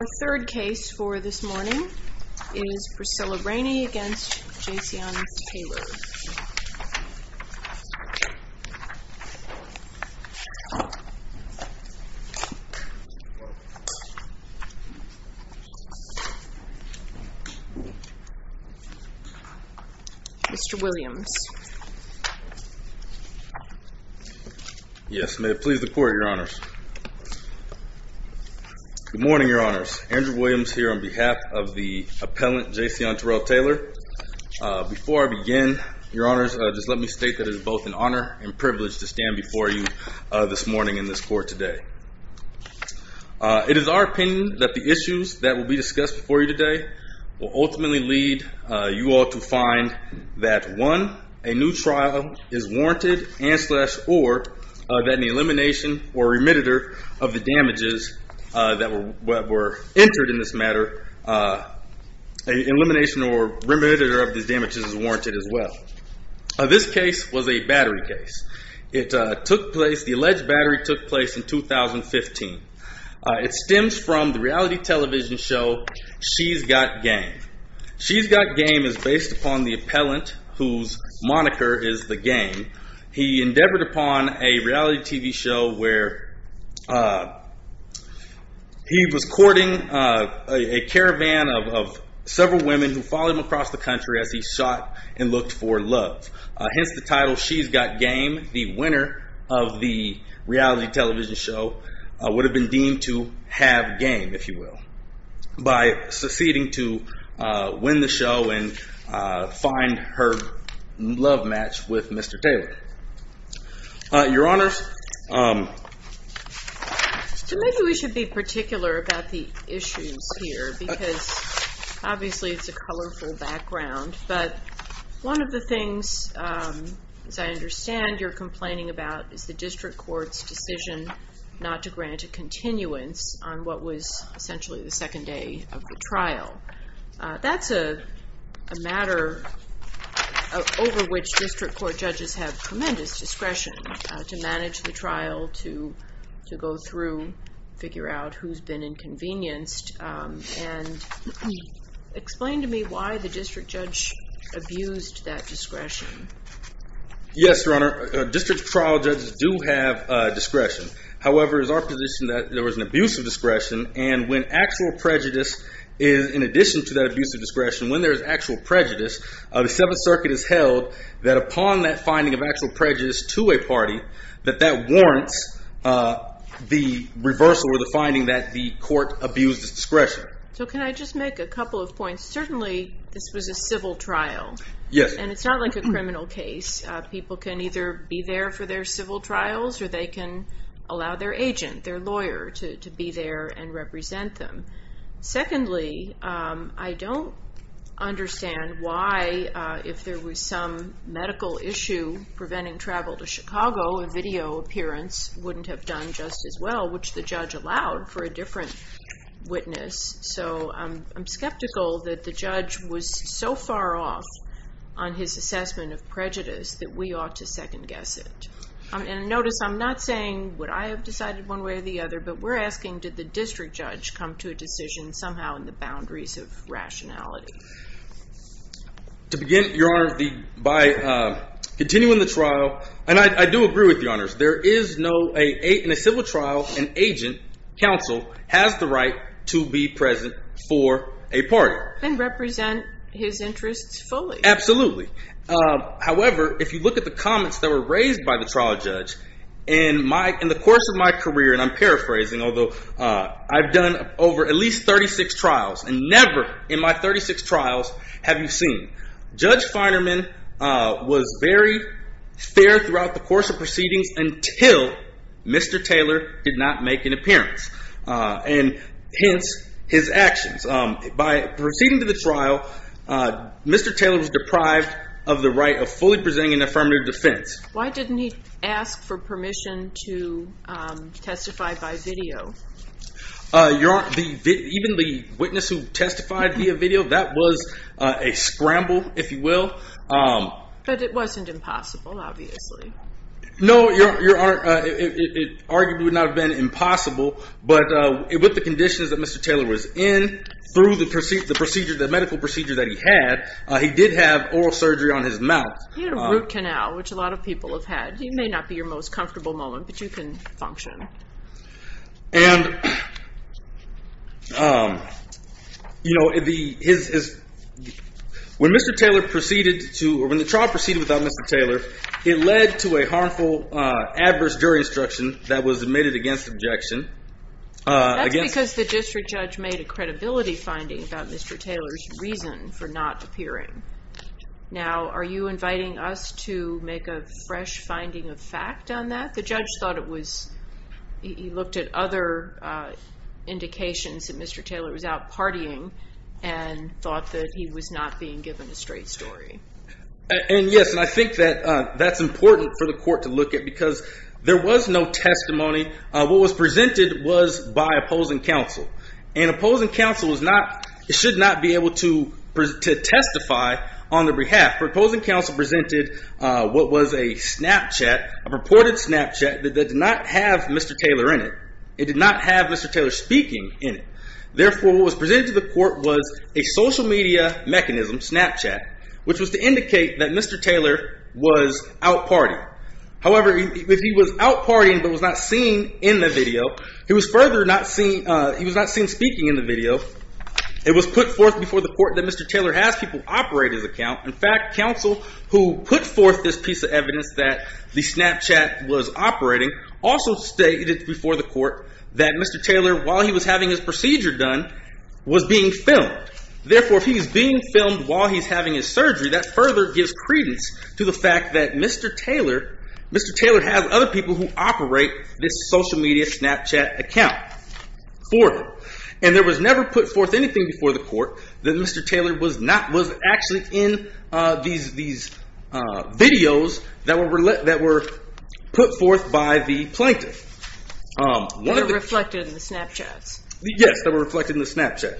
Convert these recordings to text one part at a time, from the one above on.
Our third case for this morning is Priscilla Rainey v. Jayceon Taylor. Mr. Williams. Mr. Williams Yes, may it please the court, your honors. Good morning, your honors. Andrew Williams here on behalf of the appellant, Jayceon Terrell Taylor. Before I begin, your honors, just let me state that it is both an honor and privilege to stand before you this morning in this court today. It is our opinion that the issues that will be discussed before you today will ultimately lead you all to find that one, a new trial is warranted and slash or that an elimination or remediator of the damages that were entered in this matter, an elimination or remediator of these damages is warranted as well. This case was a battery case. It took place, the alleged battery took place in 2015. It stems from the reality television show, She's Got Game. She's Got Game is based upon the appellant whose moniker is The Game. He endeavored upon a reality TV show where he was courting a caravan of several women who followed him across the country as he sought and looked for love. Hence the title, She's Got Game, the winner of the reality television show, would have been deemed to have game, if you will, by succeeding to win the show and find her love match with Mr. Taylor. Your honors. Maybe we should be particular about the issues here because obviously it's a colorful background but one of the things, as I understand, you're complaining about is the district court's decision not to grant a continuance on what was essentially the second day of the trial. That's a matter over which district court judges have tremendous discretion to manage the trial, to go through, figure out who's been inconvenienced and explain to me why the district judge abused that discretion. Yes, your honor. District trial judges do have discretion. However, it is our position that there was an abuse of discretion and when actual prejudice is, in addition to that abuse of discretion, when there is actual prejudice, the Seventh Circuit has held that upon that finding of actual prejudice to a party, that that warrants the reversal or the finding that the court abused its discretion. So can I just make a couple of points? Certainly this was a civil trial and it's not like a criminal case. People can either be there for their civil trials or they can allow their agent, their lawyer to be there and represent them. Secondly, I don't understand why if there was some medical issue preventing travel to Chicago, a video appearance wouldn't have done just as well, which the judge allowed for a different witness. So I'm skeptical that the judge was so far off on his assessment of prejudice that we ought to second guess it. And notice I'm not saying would I have decided one way or the other, but we're asking did the district judge come to a decision somehow in the boundaries of rationality? To begin, your honor, by continuing the trial, and I do agree with you, honors, in a civil trial, an agent, counsel, has the right to be present for a party. And represent his interests fully. Absolutely. However, if you look at the comments that were raised by the trial judge, in the course of my career, and I'm paraphrasing, although I've done over at least 36 trials, and never in my 36 trials have you seen, Judge Feinerman was very fair throughout the course of proceedings until Mr. Taylor did not make an appearance. And hence, his actions. By proceeding to the trial, Mr. Taylor was deprived of the right of fully presenting an affirmative defense. Why didn't he ask for permission to testify by video? Your honor, even the witness who testified via video, that was a scramble, if you will. But it wasn't impossible, obviously. No, your honor, it arguably would not have been impossible, but with the conditions that Mr. Taylor was in, through the procedures, the medical procedures that he had, he did have oral surgery on his mouth. He had a root canal, which a lot of people have had. He may not be your most comfortable moment, but you can function. And you know, when Mr. Taylor proceeded to, or when the trial proceeded without Mr. Taylor, it led to a harmful adverse jury instruction that was admitted against objection. That's because the district judge made a credibility finding about Mr. Taylor's reason for not appearing. Now, are you inviting us to make a fresh finding of fact on that? The judge thought it was, he looked at other indications that Mr. Taylor was out partying and thought that he was not being given a straight story. And yes, and I think that that's important for the court to look at, because there was no testimony. What was presented was by opposing counsel. And opposing counsel should not be able to testify on their behalf. Opposing counsel presented what was a Snapchat, a purported Snapchat, that did not have Mr. Taylor in it. It did not have Mr. Taylor speaking in it. Therefore, what was presented to the court was a social media mechanism, Snapchat, which was to indicate that Mr. Taylor was out partying. However, if he was out partying but was not seen in the video, he was further not seen, he was not seen speaking in the video, it was put forth before the court that Mr. Taylor has people operate his account. In fact, counsel who put forth this piece of evidence that the Snapchat was operating also stated before the court that Mr. Taylor, while he was having his procedure done, was being filmed. Therefore, if he's being filmed while he's having his surgery, that further gives credence to the fact that Mr. Taylor has other people who operate this social media Snapchat account for him. And there was never put forth anything before the court that Mr. Taylor was actually in these videos that were put forth by the plaintiff. They were reflected in the Snapchats. Yes, they were reflected in the Snapchat.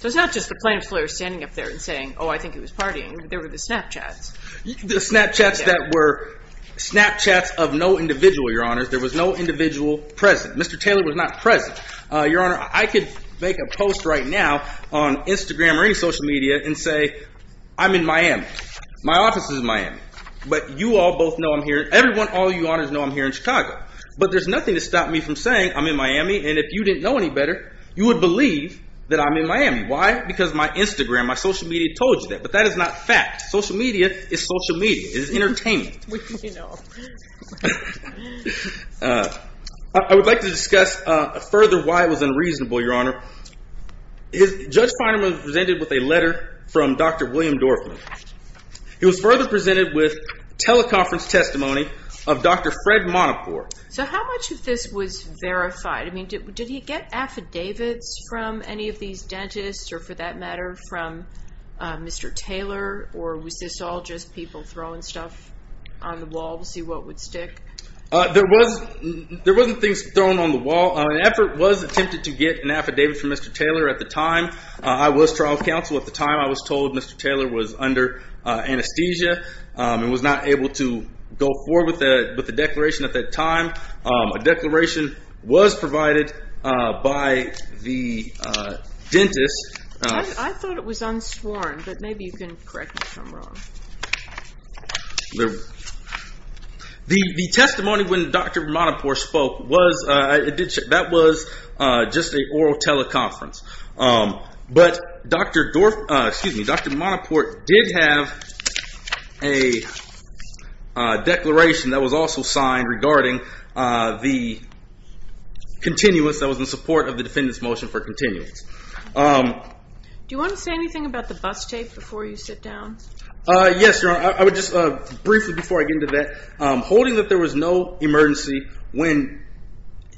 So it's not just the plaintiff's lawyer standing up there and saying, oh, I think he was partying. There were the Snapchats. The Snapchats that were Snapchats of no individual, Your Honor. There was no individual present. Mr. Taylor was not present. Your Honor, I could make a post right now on Instagram or any social media and say, I'm in Miami. My office is in Miami. But you all both know I'm here. Everyone, all you honors know I'm here in Chicago. But there's nothing to stop me from saying, I'm in Miami, and if you didn't know any better, you would believe that I'm in Miami. Why? Because my Instagram, my social media told you that. But that is not fact. Social media is social media. It is entertainment. You know. I would like to discuss further why it was unreasonable, Your Honor. Judge Finerman was presented with a letter from Dr. William Dorfman. He was further presented with teleconference testimony of Dr. Fred Monopore. So how much of this was verified? Did he get affidavits from any of these dentists or, for that matter, from Mr. Taylor? Or was this all just people throwing stuff on the wall? We'll see what would stick. There wasn't things thrown on the wall. An effort was attempted to get an affidavit from Mr. Taylor at the time. I was trial counsel at the time. I was told Mr. Taylor was under anesthesia and was not able to go forward with the declaration at that time. A declaration was provided by the dentist. I thought it was unsworn. But maybe you can correct me if I'm wrong. The testimony when Dr. Monopore spoke, that was just an oral teleconference. But Dr. Monopore did have a declaration that was also signed regarding the continuous that was in support of the defendant's motion for continuance. Do you want to say anything about the bus tape before you sit down? Yes, Your Honor. Briefly before I get into that, holding that there was no emergency when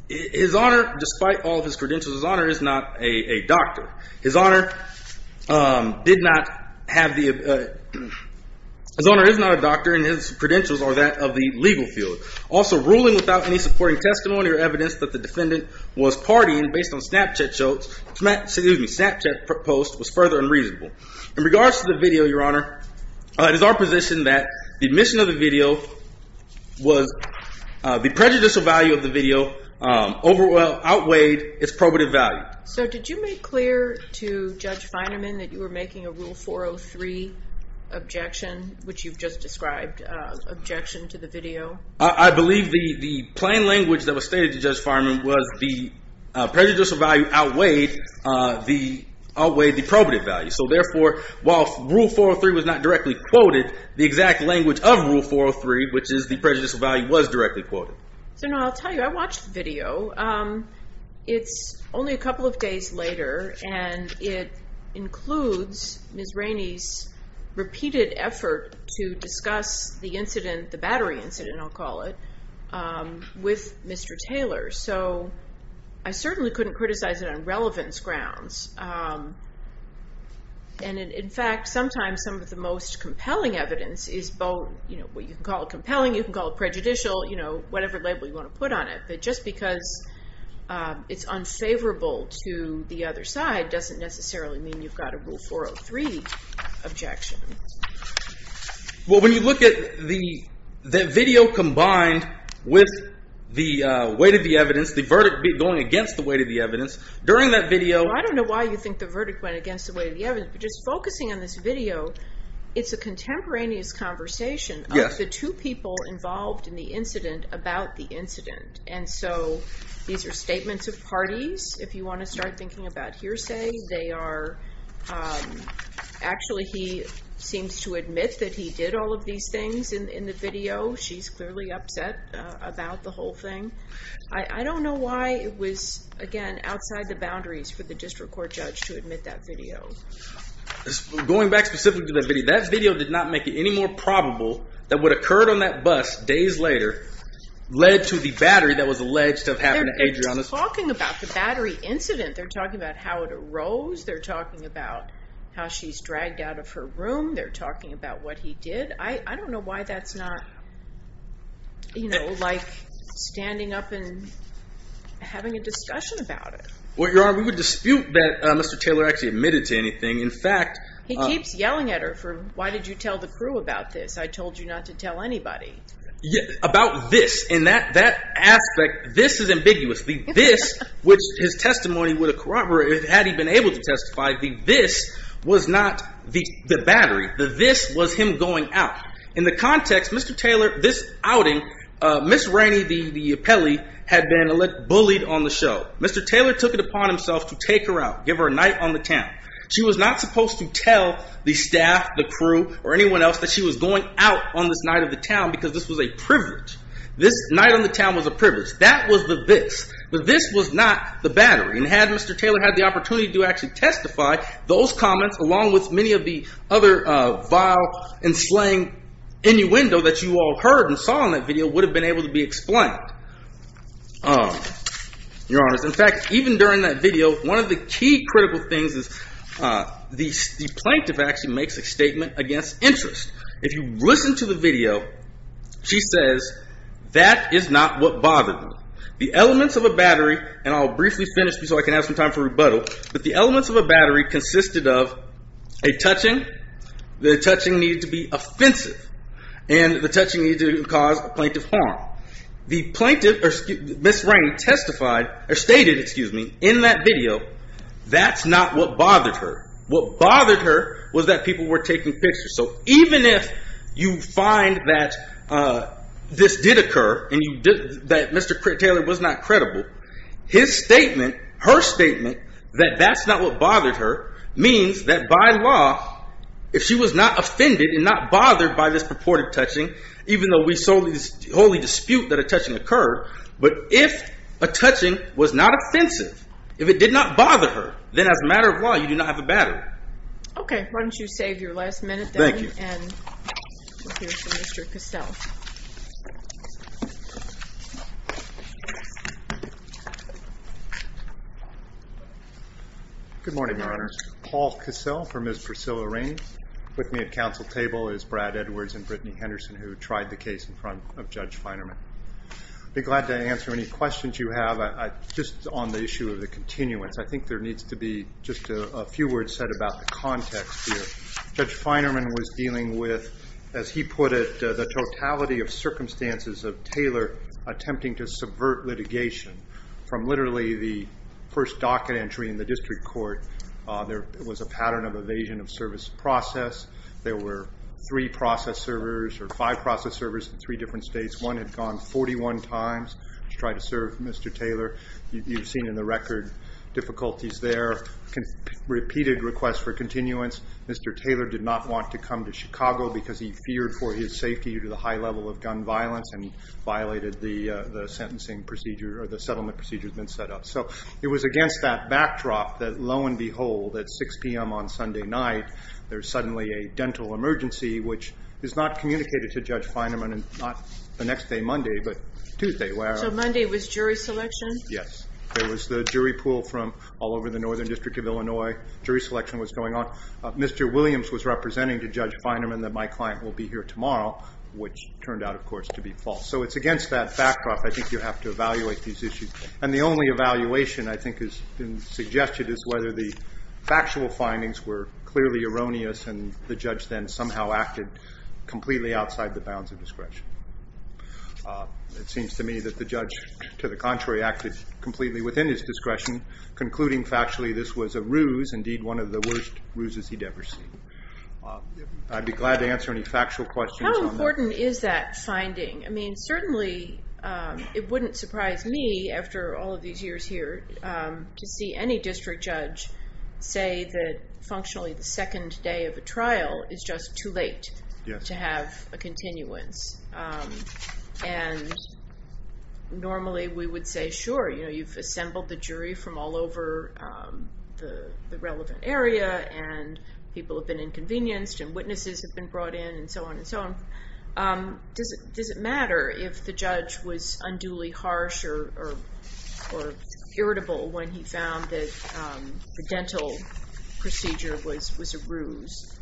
his Honor, despite all of his credentials, his Honor is not a doctor. His Honor is not a doctor and his credentials are that of the legal field. Also, ruling without any supporting testimony or evidence that the defendant was partying based on Snapchat posts was further unreasonable. In regards to the video, Your Honor, it is our position that the omission of the video was the prejudicial value of the video outweighed its probative value. So did you make clear to Judge Fineman that you were making a Rule 403 objection, which you've just described, objection to the video? I believe the plain language that was stated to Judge Fineman was the prejudicial value outweighed the probative value. So therefore, while Rule 403 was not directly quoted, the exact language of Rule 403, which is the prejudicial value, was directly quoted. I'll tell you, I watched the video. It's only a couple of days later and it includes Ms. Rainey's repeated effort to discuss the incident, the battery incident I'll call it, with Mr. Taylor. So I certainly couldn't criticize it on relevance grounds. And in fact, sometimes some of the most compelling evidence is both what you can call compelling, you can call it prejudicial, whatever label you want to put on it. But just because it's unfavorable to the other side doesn't necessarily mean you've got a Rule 403 objection. Well, when you look at the video combined with the weight of the evidence, the verdict going against the weight of the evidence, during that video… Well, I don't know why you think the verdict went against the weight of the evidence, but just focusing on this video, it's a contemporaneous conversation of the two people involved in the incident about the incident. And so these are statements of parties. If you want to start thinking about hearsay, they are… Actually, he seems to admit that he did all of these things in the video. She's clearly upset about the whole thing. I don't know why it was, again, outside the boundaries for the district court judge to admit that video. Going back specifically to that video, that video did not make it any more probable that what occurred on that bus days later led to the battery that was alleged to have happened to Adriana's… They're talking about the battery incident. They're talking about how it arose. They're talking about how she's dragged out of her room. They're talking about what he did. I don't know why that's not, you know, like standing up and having a discussion about it. Well, Your Honor, we would dispute that Mr. Taylor actually admitted to anything. In fact… He keeps yelling at her for, why did you tell the crew about this? I told you not to tell anybody. About this. And that aspect, this is ambiguous. The this, which his testimony would corroborate, had he been able to testify, the this was not the battery. The this was him going out. In the context, Mr. Taylor, this outing, Ms. Rainey, the appellee, had been bullied on the show. Mr. Taylor took it upon himself to take her out, give her a night on the town. She was not supposed to tell the staff, the crew, or anyone else that she was going out on this night of the town because this was a privilege. This night on the town was a privilege. That was the this. The this was not the battery. And had Mr. Taylor had the opportunity to actually testify, those comments, along with many of the other vile and slang innuendo that you all heard and saw on that video, would have been able to be explained. In fact, even during that video, one of the key critical things is the plaintiff actually makes a statement against interest. If you listen to the video, she says, that is not what bothered them. The elements of a battery, and I'll briefly finish so I can have some time for rebuttal, but the elements of a battery consisted of a touching, the touching needed to be offensive, and the touching needed to cause a plaintiff harm. The plaintiff, Ms. Raine, testified, or stated, excuse me, in that video, that's not what bothered her. What bothered her was that people were taking pictures. So even if you find that this did occur, and that Mr. Taylor was not credible, his statement, her statement, that that's not what bothered her, means that by law, if she was not offended and not bothered by this purported touching, even though we solely dispute that a touching occurred, but if a touching was not offensive, if it did not bother her, then as a matter of law, you do not have a battery. Okay, why don't you save your last minute then, and we'll hear from Mr. Cassell. Good morning, Your Honors. Paul Cassell for Ms. Priscilla Raine. With me at council table is Brad Edwards and Brittany Henderson, who tried the case in front of Judge Finerman. I'd be glad to answer any questions you have, just on the issue of the continuance. I think there needs to be just a few words said about the context here. Judge Finerman was dealing with, as he put it, the totality of circumstances of Taylor attempting to subvert litigation. From literally the first docket entry in the district court, there was a pattern of evasion of service process. There were three process servers, or five process servers in three different states. One had gone 41 times to try to serve Mr. Taylor. You've seen in the record difficulties there. Repeated requests for continuance. Mr. Taylor did not want to come to Chicago because he feared for his safety due to the high level of gun violence, and violated the sentencing procedure, or the settlement procedure that had been set up. It was against that backdrop that lo and behold, at 6 p.m. on Sunday night, there's suddenly a dental emergency, which is not communicated to Judge Finerman, and not the next day, Monday, but Tuesday. So Monday was jury selection? Yes. There was the jury pool from all over the northern district of Illinois. Jury selection was going on. Mr. Williams was representing to Judge Finerman that my client will be here tomorrow, which turned out, of course, to be false. So it's against that backdrop. I think you have to evaluate these issues. And the only evaluation I think has been suggested is whether the factual findings were clearly erroneous, and the judge then somehow acted completely outside the bounds of discretion. It seems to me that the judge, to the contrary, acted completely within his discretion, concluding factually this was a ruse, indeed one of the worst ruses he'd ever seen. I'd be glad to answer any factual questions on that. How important is that finding? I mean, certainly, it wouldn't surprise me, after all of these years here, to see any district judge say that, functionally, the second day of a trial is just too late to have a continuance. And normally, we would say, sure, you've assembled the jury from all over the relevant area, and people have been inconvenienced, and witnesses have been brought in, and so on and so on. Does it matter if the judge was unduly harsh or irritable when he found that the dental procedure was a ruse?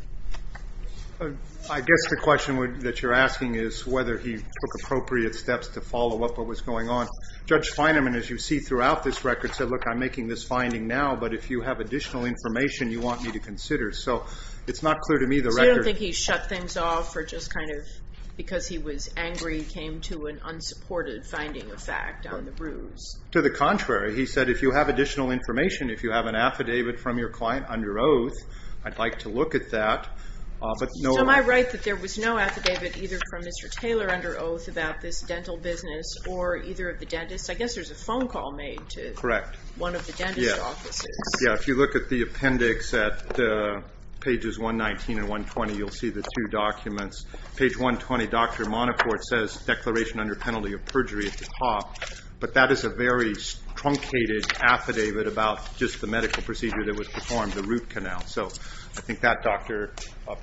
I guess the question that you're asking is whether he took appropriate steps to follow up what was going on. Judge Fineman, as you see throughout this record, said, look, I'm making this finding now, but if you have additional information, you want me to consider. So it's not clear to me the record... So you don't think he shut things off, or just kind of, because he was angry, came to an unsupported finding of fact on the ruse? To the contrary. He said, if you have additional information, if you have an affidavit from your client under oath, I'd like to look at that. So am I right that there was no affidavit, either from Mr. Taylor under oath, about this dental business, or either of the dentists? I guess there's a phone call made to one of the dentist offices. Yeah, if you look at the appendix at pages 119 and 120, you'll see the two documents. Page 120, Dr. Monacourt says, declaration under penalty of perjury at the top, but that is a very truncated affidavit about just the medical procedure that was performed, the root canal. So I think that doctor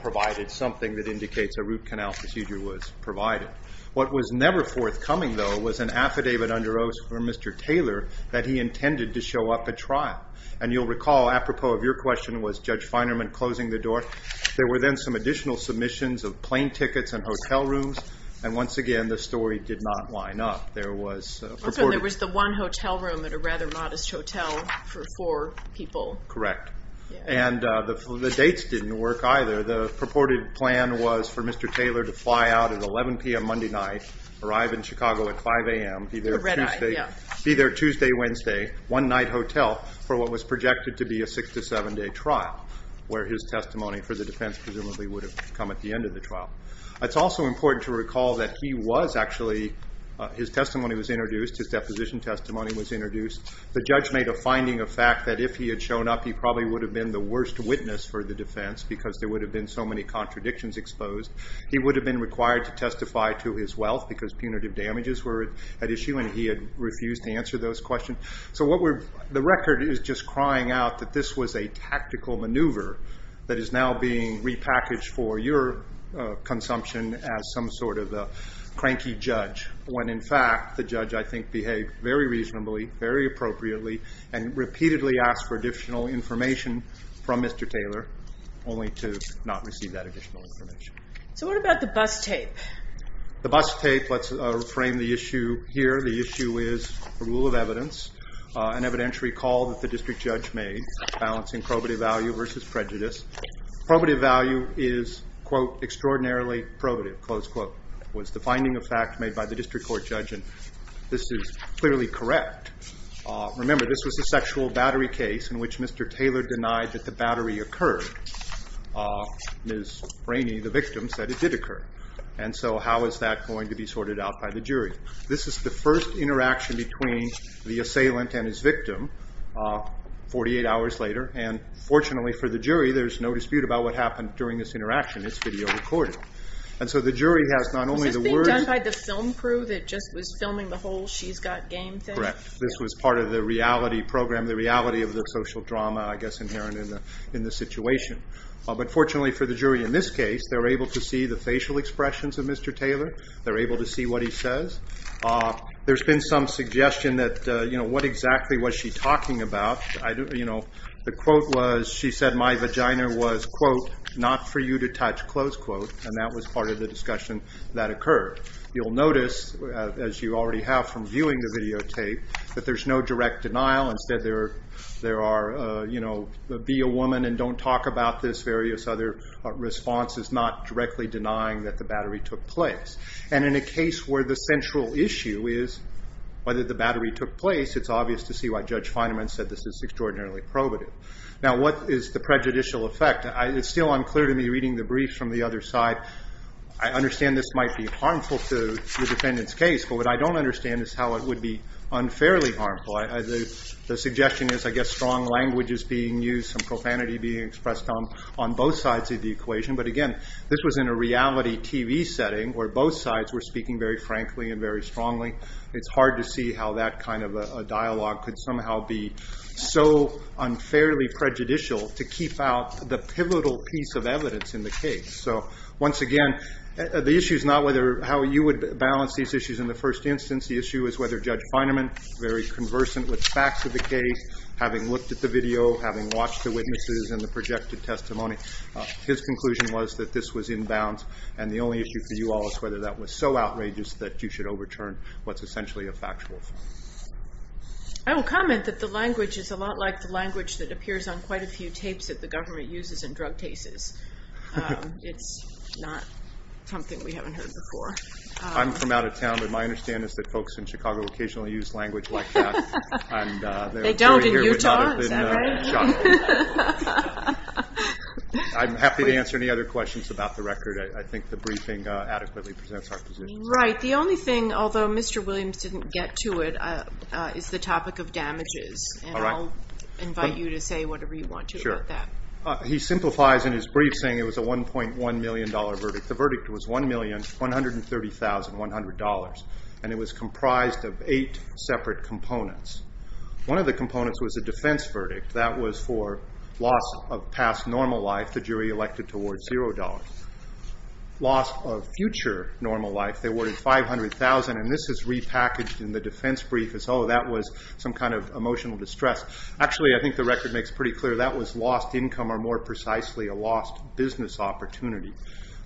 provided something that indicates a root canal procedure was provided. What was never forthcoming, though, was an affidavit under oath from Mr. Taylor that he intended to show up at trial. And you'll recall, apropos of your question, was Judge Finerman closing the door? There were then some additional submissions of plane tickets and hotel rooms, and once again, the story did not line up. There was the one hotel room at a rather modest hotel for four people. Correct. And the dates didn't work either. The purported plan was for Mr. Taylor to fly out at 11 p.m. Monday night, arrive in Chicago at 5 a.m., be there Tuesday, Wednesday, one-night hotel, for what was projected to be a six- to seven-day trial, where his testimony for the defense presumably would have come at the end of the trial. It's also important to recall that he was actually, his testimony was introduced, his deposition testimony was introduced. The judge made a finding of fact that if he had shown up, he probably would have been the worst witness for the defense because there would have been so many contradictions exposed. He would have been required to testify to his wealth because punitive damages were at issue, and he had refused to answer those questions. So the record is just crying out that this was a tactical maneuver that is now being repackaged for your consumption as some sort of a cranky judge, when in fact the judge, I think, behaved very reasonably, very appropriately, and repeatedly asked for additional information from Mr. Taylor, only to not receive that additional information. So what about the bus tape? The bus tape, let's frame the issue here. The issue is a rule of evidence, an evidentiary call that the district judge made, balancing probative value versus prejudice. Probative value is, quote, extraordinarily probative, close quote. It was the finding of fact made by the district court judge, and this is clearly correct. Remember, this was a sexual battery case in which Mr. Taylor denied that the battery occurred. Ms. Rainey, the victim, said it did occur. And so how is that going to be sorted out by the jury? This is the first interaction between the assailant and his victim, 48 hours later, and fortunately for the jury, there's no dispute about what happened during this interaction. It's video recorded. And so the jury has not only the words... Was this being done by the film crew that just was filming the whole She's Got Game thing? Correct. This was part of the reality program, the reality of the social drama, I guess, inherent in the situation. But fortunately for the jury in this case, they're able to see the facial expressions of Mr. Taylor. They're able to see what he says. There's been some suggestion that what exactly was she talking about? The quote was, she said, my vagina was, quote, not for you to touch, close quote, and that was part of the discussion that occurred. You'll notice, as you already have from viewing the videotape, that there's no direct denial. Instead there are, be a woman and don't talk about this, various other responses, not directly denying that the battery took place. And in a case where the central issue is whether the battery took place, it's obvious to see why Judge Fineman said this is extraordinarily probative. Now what is the prejudicial effect? It's still unclear to me reading the brief from the other side. I understand this might be harmful to the defendant's case, but what I don't understand is how it would be unfairly harmful. The suggestion is, I guess, strong language is being used, some profanity being expressed on both sides of the equation. But again, this was in a reality TV setting, where both sides were speaking very frankly and very strongly. It's hard to see how that kind of a dialogue could somehow be so unfairly prejudicial to keep out the pivotal piece of evidence in the case. So once again, the issue is not whether, how you would balance these issues in the first instance. The issue is whether Judge Fineman, very conversant with facts of the case, having looked at the video, having watched the witnesses and the projected testimony, his conclusion was that this was inbounds. And the only issue for you all is whether that was so outrageous that you should overturn what's essentially a factual fact. I will comment that the language is a lot like the language that appears on quite a few tapes that the government uses in drug cases. It's not something we haven't heard before. I'm from out of town, but my understanding is that folks in Chicago occasionally use language like that. They don't in Utah, is that right? I'm happy to answer any other questions about the record. I think the briefing adequately presents our position. Right. The only thing, although Mr. Williams didn't get to it, is the topic of damages. And I'll invite you to say whatever you want to about that. He simplifies in his brief saying it was a $1.1 million verdict. The verdict was $1,130,100. And it was comprised of eight separate components. One of the components was a defense verdict. That was for loss of past normal life. The jury elected towards $0. Loss of future normal life, they awarded $500,000. And this is repackaged in the defense brief as, oh, that was some kind of emotional distress. Actually, I think the record makes pretty clear that was lost income or more precisely a lost business opportunity.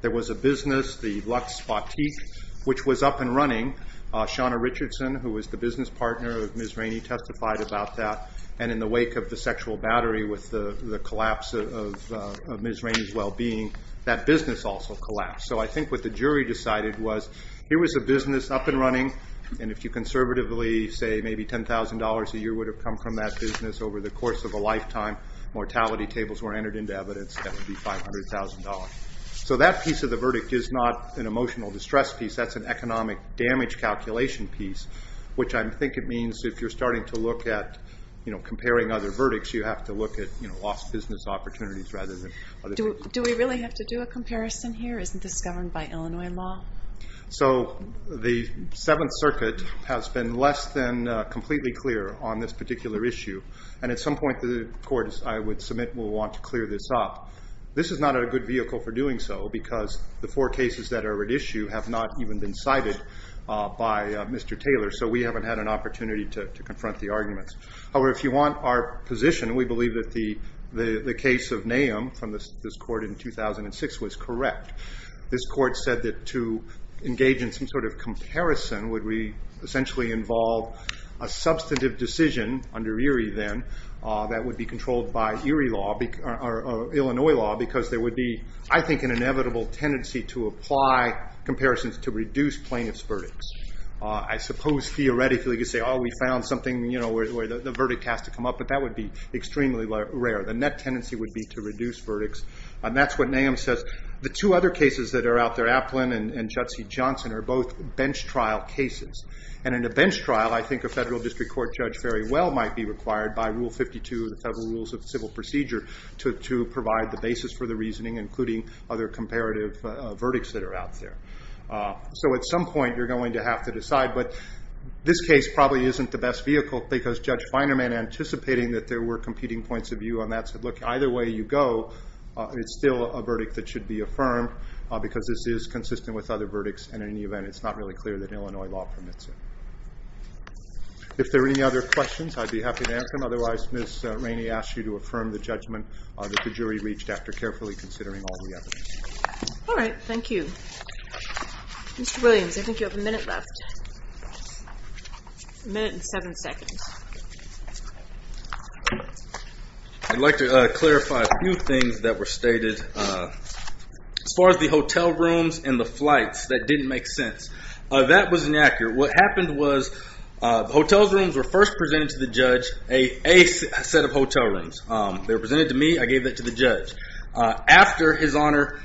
There was a business, the Lux Boutique, which was up and running. Shauna Richardson, who was the business partner of Ms. Rainey, testified about that. And in the wake of the sexual battery with the collapse of Ms. Rainey's well-being, that business also collapsed. So I think what the jury decided was here was a business up and running and if you conservatively say maybe $10,000 a year would have come from that business over the course of a lifetime, mortality tables were entered into evidence, that would be $500,000. So that piece of the verdict is not an emotional distress piece. That's an economic damage calculation piece, which I think it means if you're starting to look at comparing other verdicts, you have to look at lost business opportunities rather than other things. Do we really have to do a comparison here? Isn't this governed by Illinois law? So the Seventh Circuit has been less than completely clear on this particular issue. And at some point the court, I would submit, will want to clear this up. This is not a good vehicle for doing so because the four cases that are at issue have not even been cited by Mr. Taylor, so we haven't had an opportunity to confront the arguments. However, if you want our position, we believe that the case of Nahum from this court in 2006 was correct. This court said that to engage in some sort of comparison would we essentially involve a substantive decision under Erie then that would be controlled by Illinois law because there would be, I think, an inevitable tendency to apply comparisons to reduce plaintiff's verdicts. I suppose theoretically you could say, we found something where the verdict has to come up, but that would be extremely rare. That's what Nahum says. The two other cases that are out there, Applin and Judd C. Johnson, are both bench trial cases. And in a bench trial, I think a federal district court judge might be required by Rule 52 of the Federal Rules of Civil Procedure to provide the basis for the reasoning including other comparative verdicts that are out there. So at some point you're going to have to decide but this case probably isn't the best vehicle because Judge Finerman, anticipating that there were competing points of view on that said, look, either way you go, it's still a verdict that should be affirmed because this is consistent with other verdicts and in any event it's not really clear that Illinois law permits it. If there are any other questions, I'd be happy to answer them. Otherwise, Ms. Rainey asks you to affirm the judgment that the jury reached after carefully considering all the evidence. Alright, thank you. Mr. Williams, I think you have a minute left. A minute and seven seconds. I'd like to clarify a few things that were stated. As far as the hotel rooms and the flights that didn't make sense. That was inaccurate. What happened was the hotel rooms were first presented to the judge, a set of hotel rooms. They were presented to me, I gave that to the judge. After his honor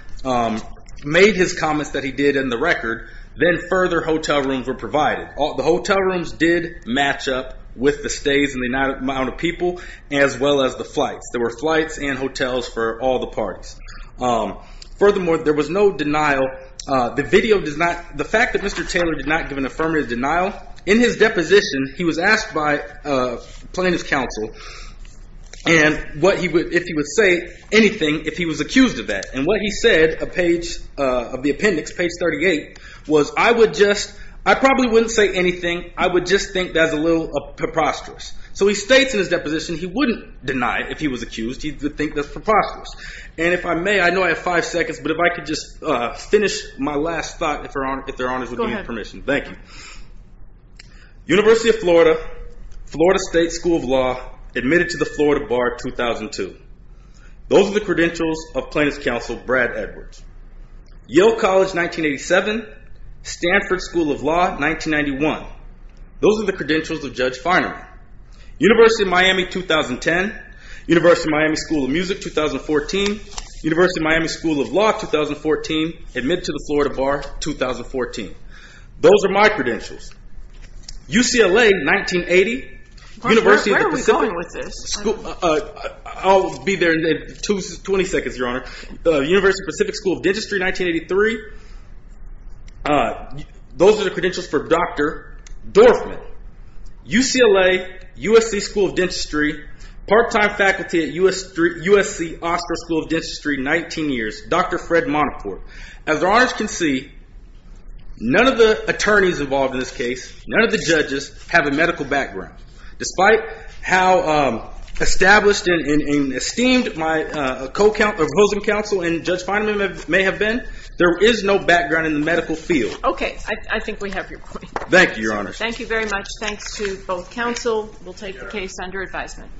made his comments that he did in the record, then further hotel rooms were provided. The hotel rooms did match up with the stays and the amount of people as well as the flights. There were flights and hotels for all the parties. Furthermore, there was no denial. The fact that Mr. Taylor did not give an affirmative denial in his deposition, he was asked by plaintiff's counsel if he would say anything if he was accused of that. What he said of the appendix, page 38 was, I probably wouldn't say anything I would just think that's a little preposterous. He states in his deposition he wouldn't deny if he was accused, he would think that's preposterous. If I may, I know I have 5 seconds, but if I could just finish my last thought, if their honors would give me permission. University of Florida, Florida State School of Law admitted to the Florida Bar 2002. Those are the credentials of plaintiff's counsel, Brad Edwards. Yale College, 1987 Stanford School of Law, 1991 Those are the credentials of Judge Feinerman. University of Miami, 2010. University of Miami School of Music, 2014. University of Miami School of Law, 2014. Admitted to the Florida Bar, 2014. Those are my credentials. UCLA, 1980. Where are we going with this? I'll be there in 20 seconds, your honor. University of the Pacific School of Dentistry, 1983. Those are the credentials for Dr. Dorfman. UCLA USC School of Dentistry, part-time faculty at USC Oscar School of Dentistry, 19 years. Dr. Fred Monoport. As our honors can see, none of the attorneys involved in this case, none of the judges, have a medical background. Despite how established and esteemed my opposing counsel and Judge Feinerman may have been, there is no background in the medical field. Okay, I think we have your point. Thank you, your honor. Thank you very much. Thanks to both counsel. We'll take the case under advisement.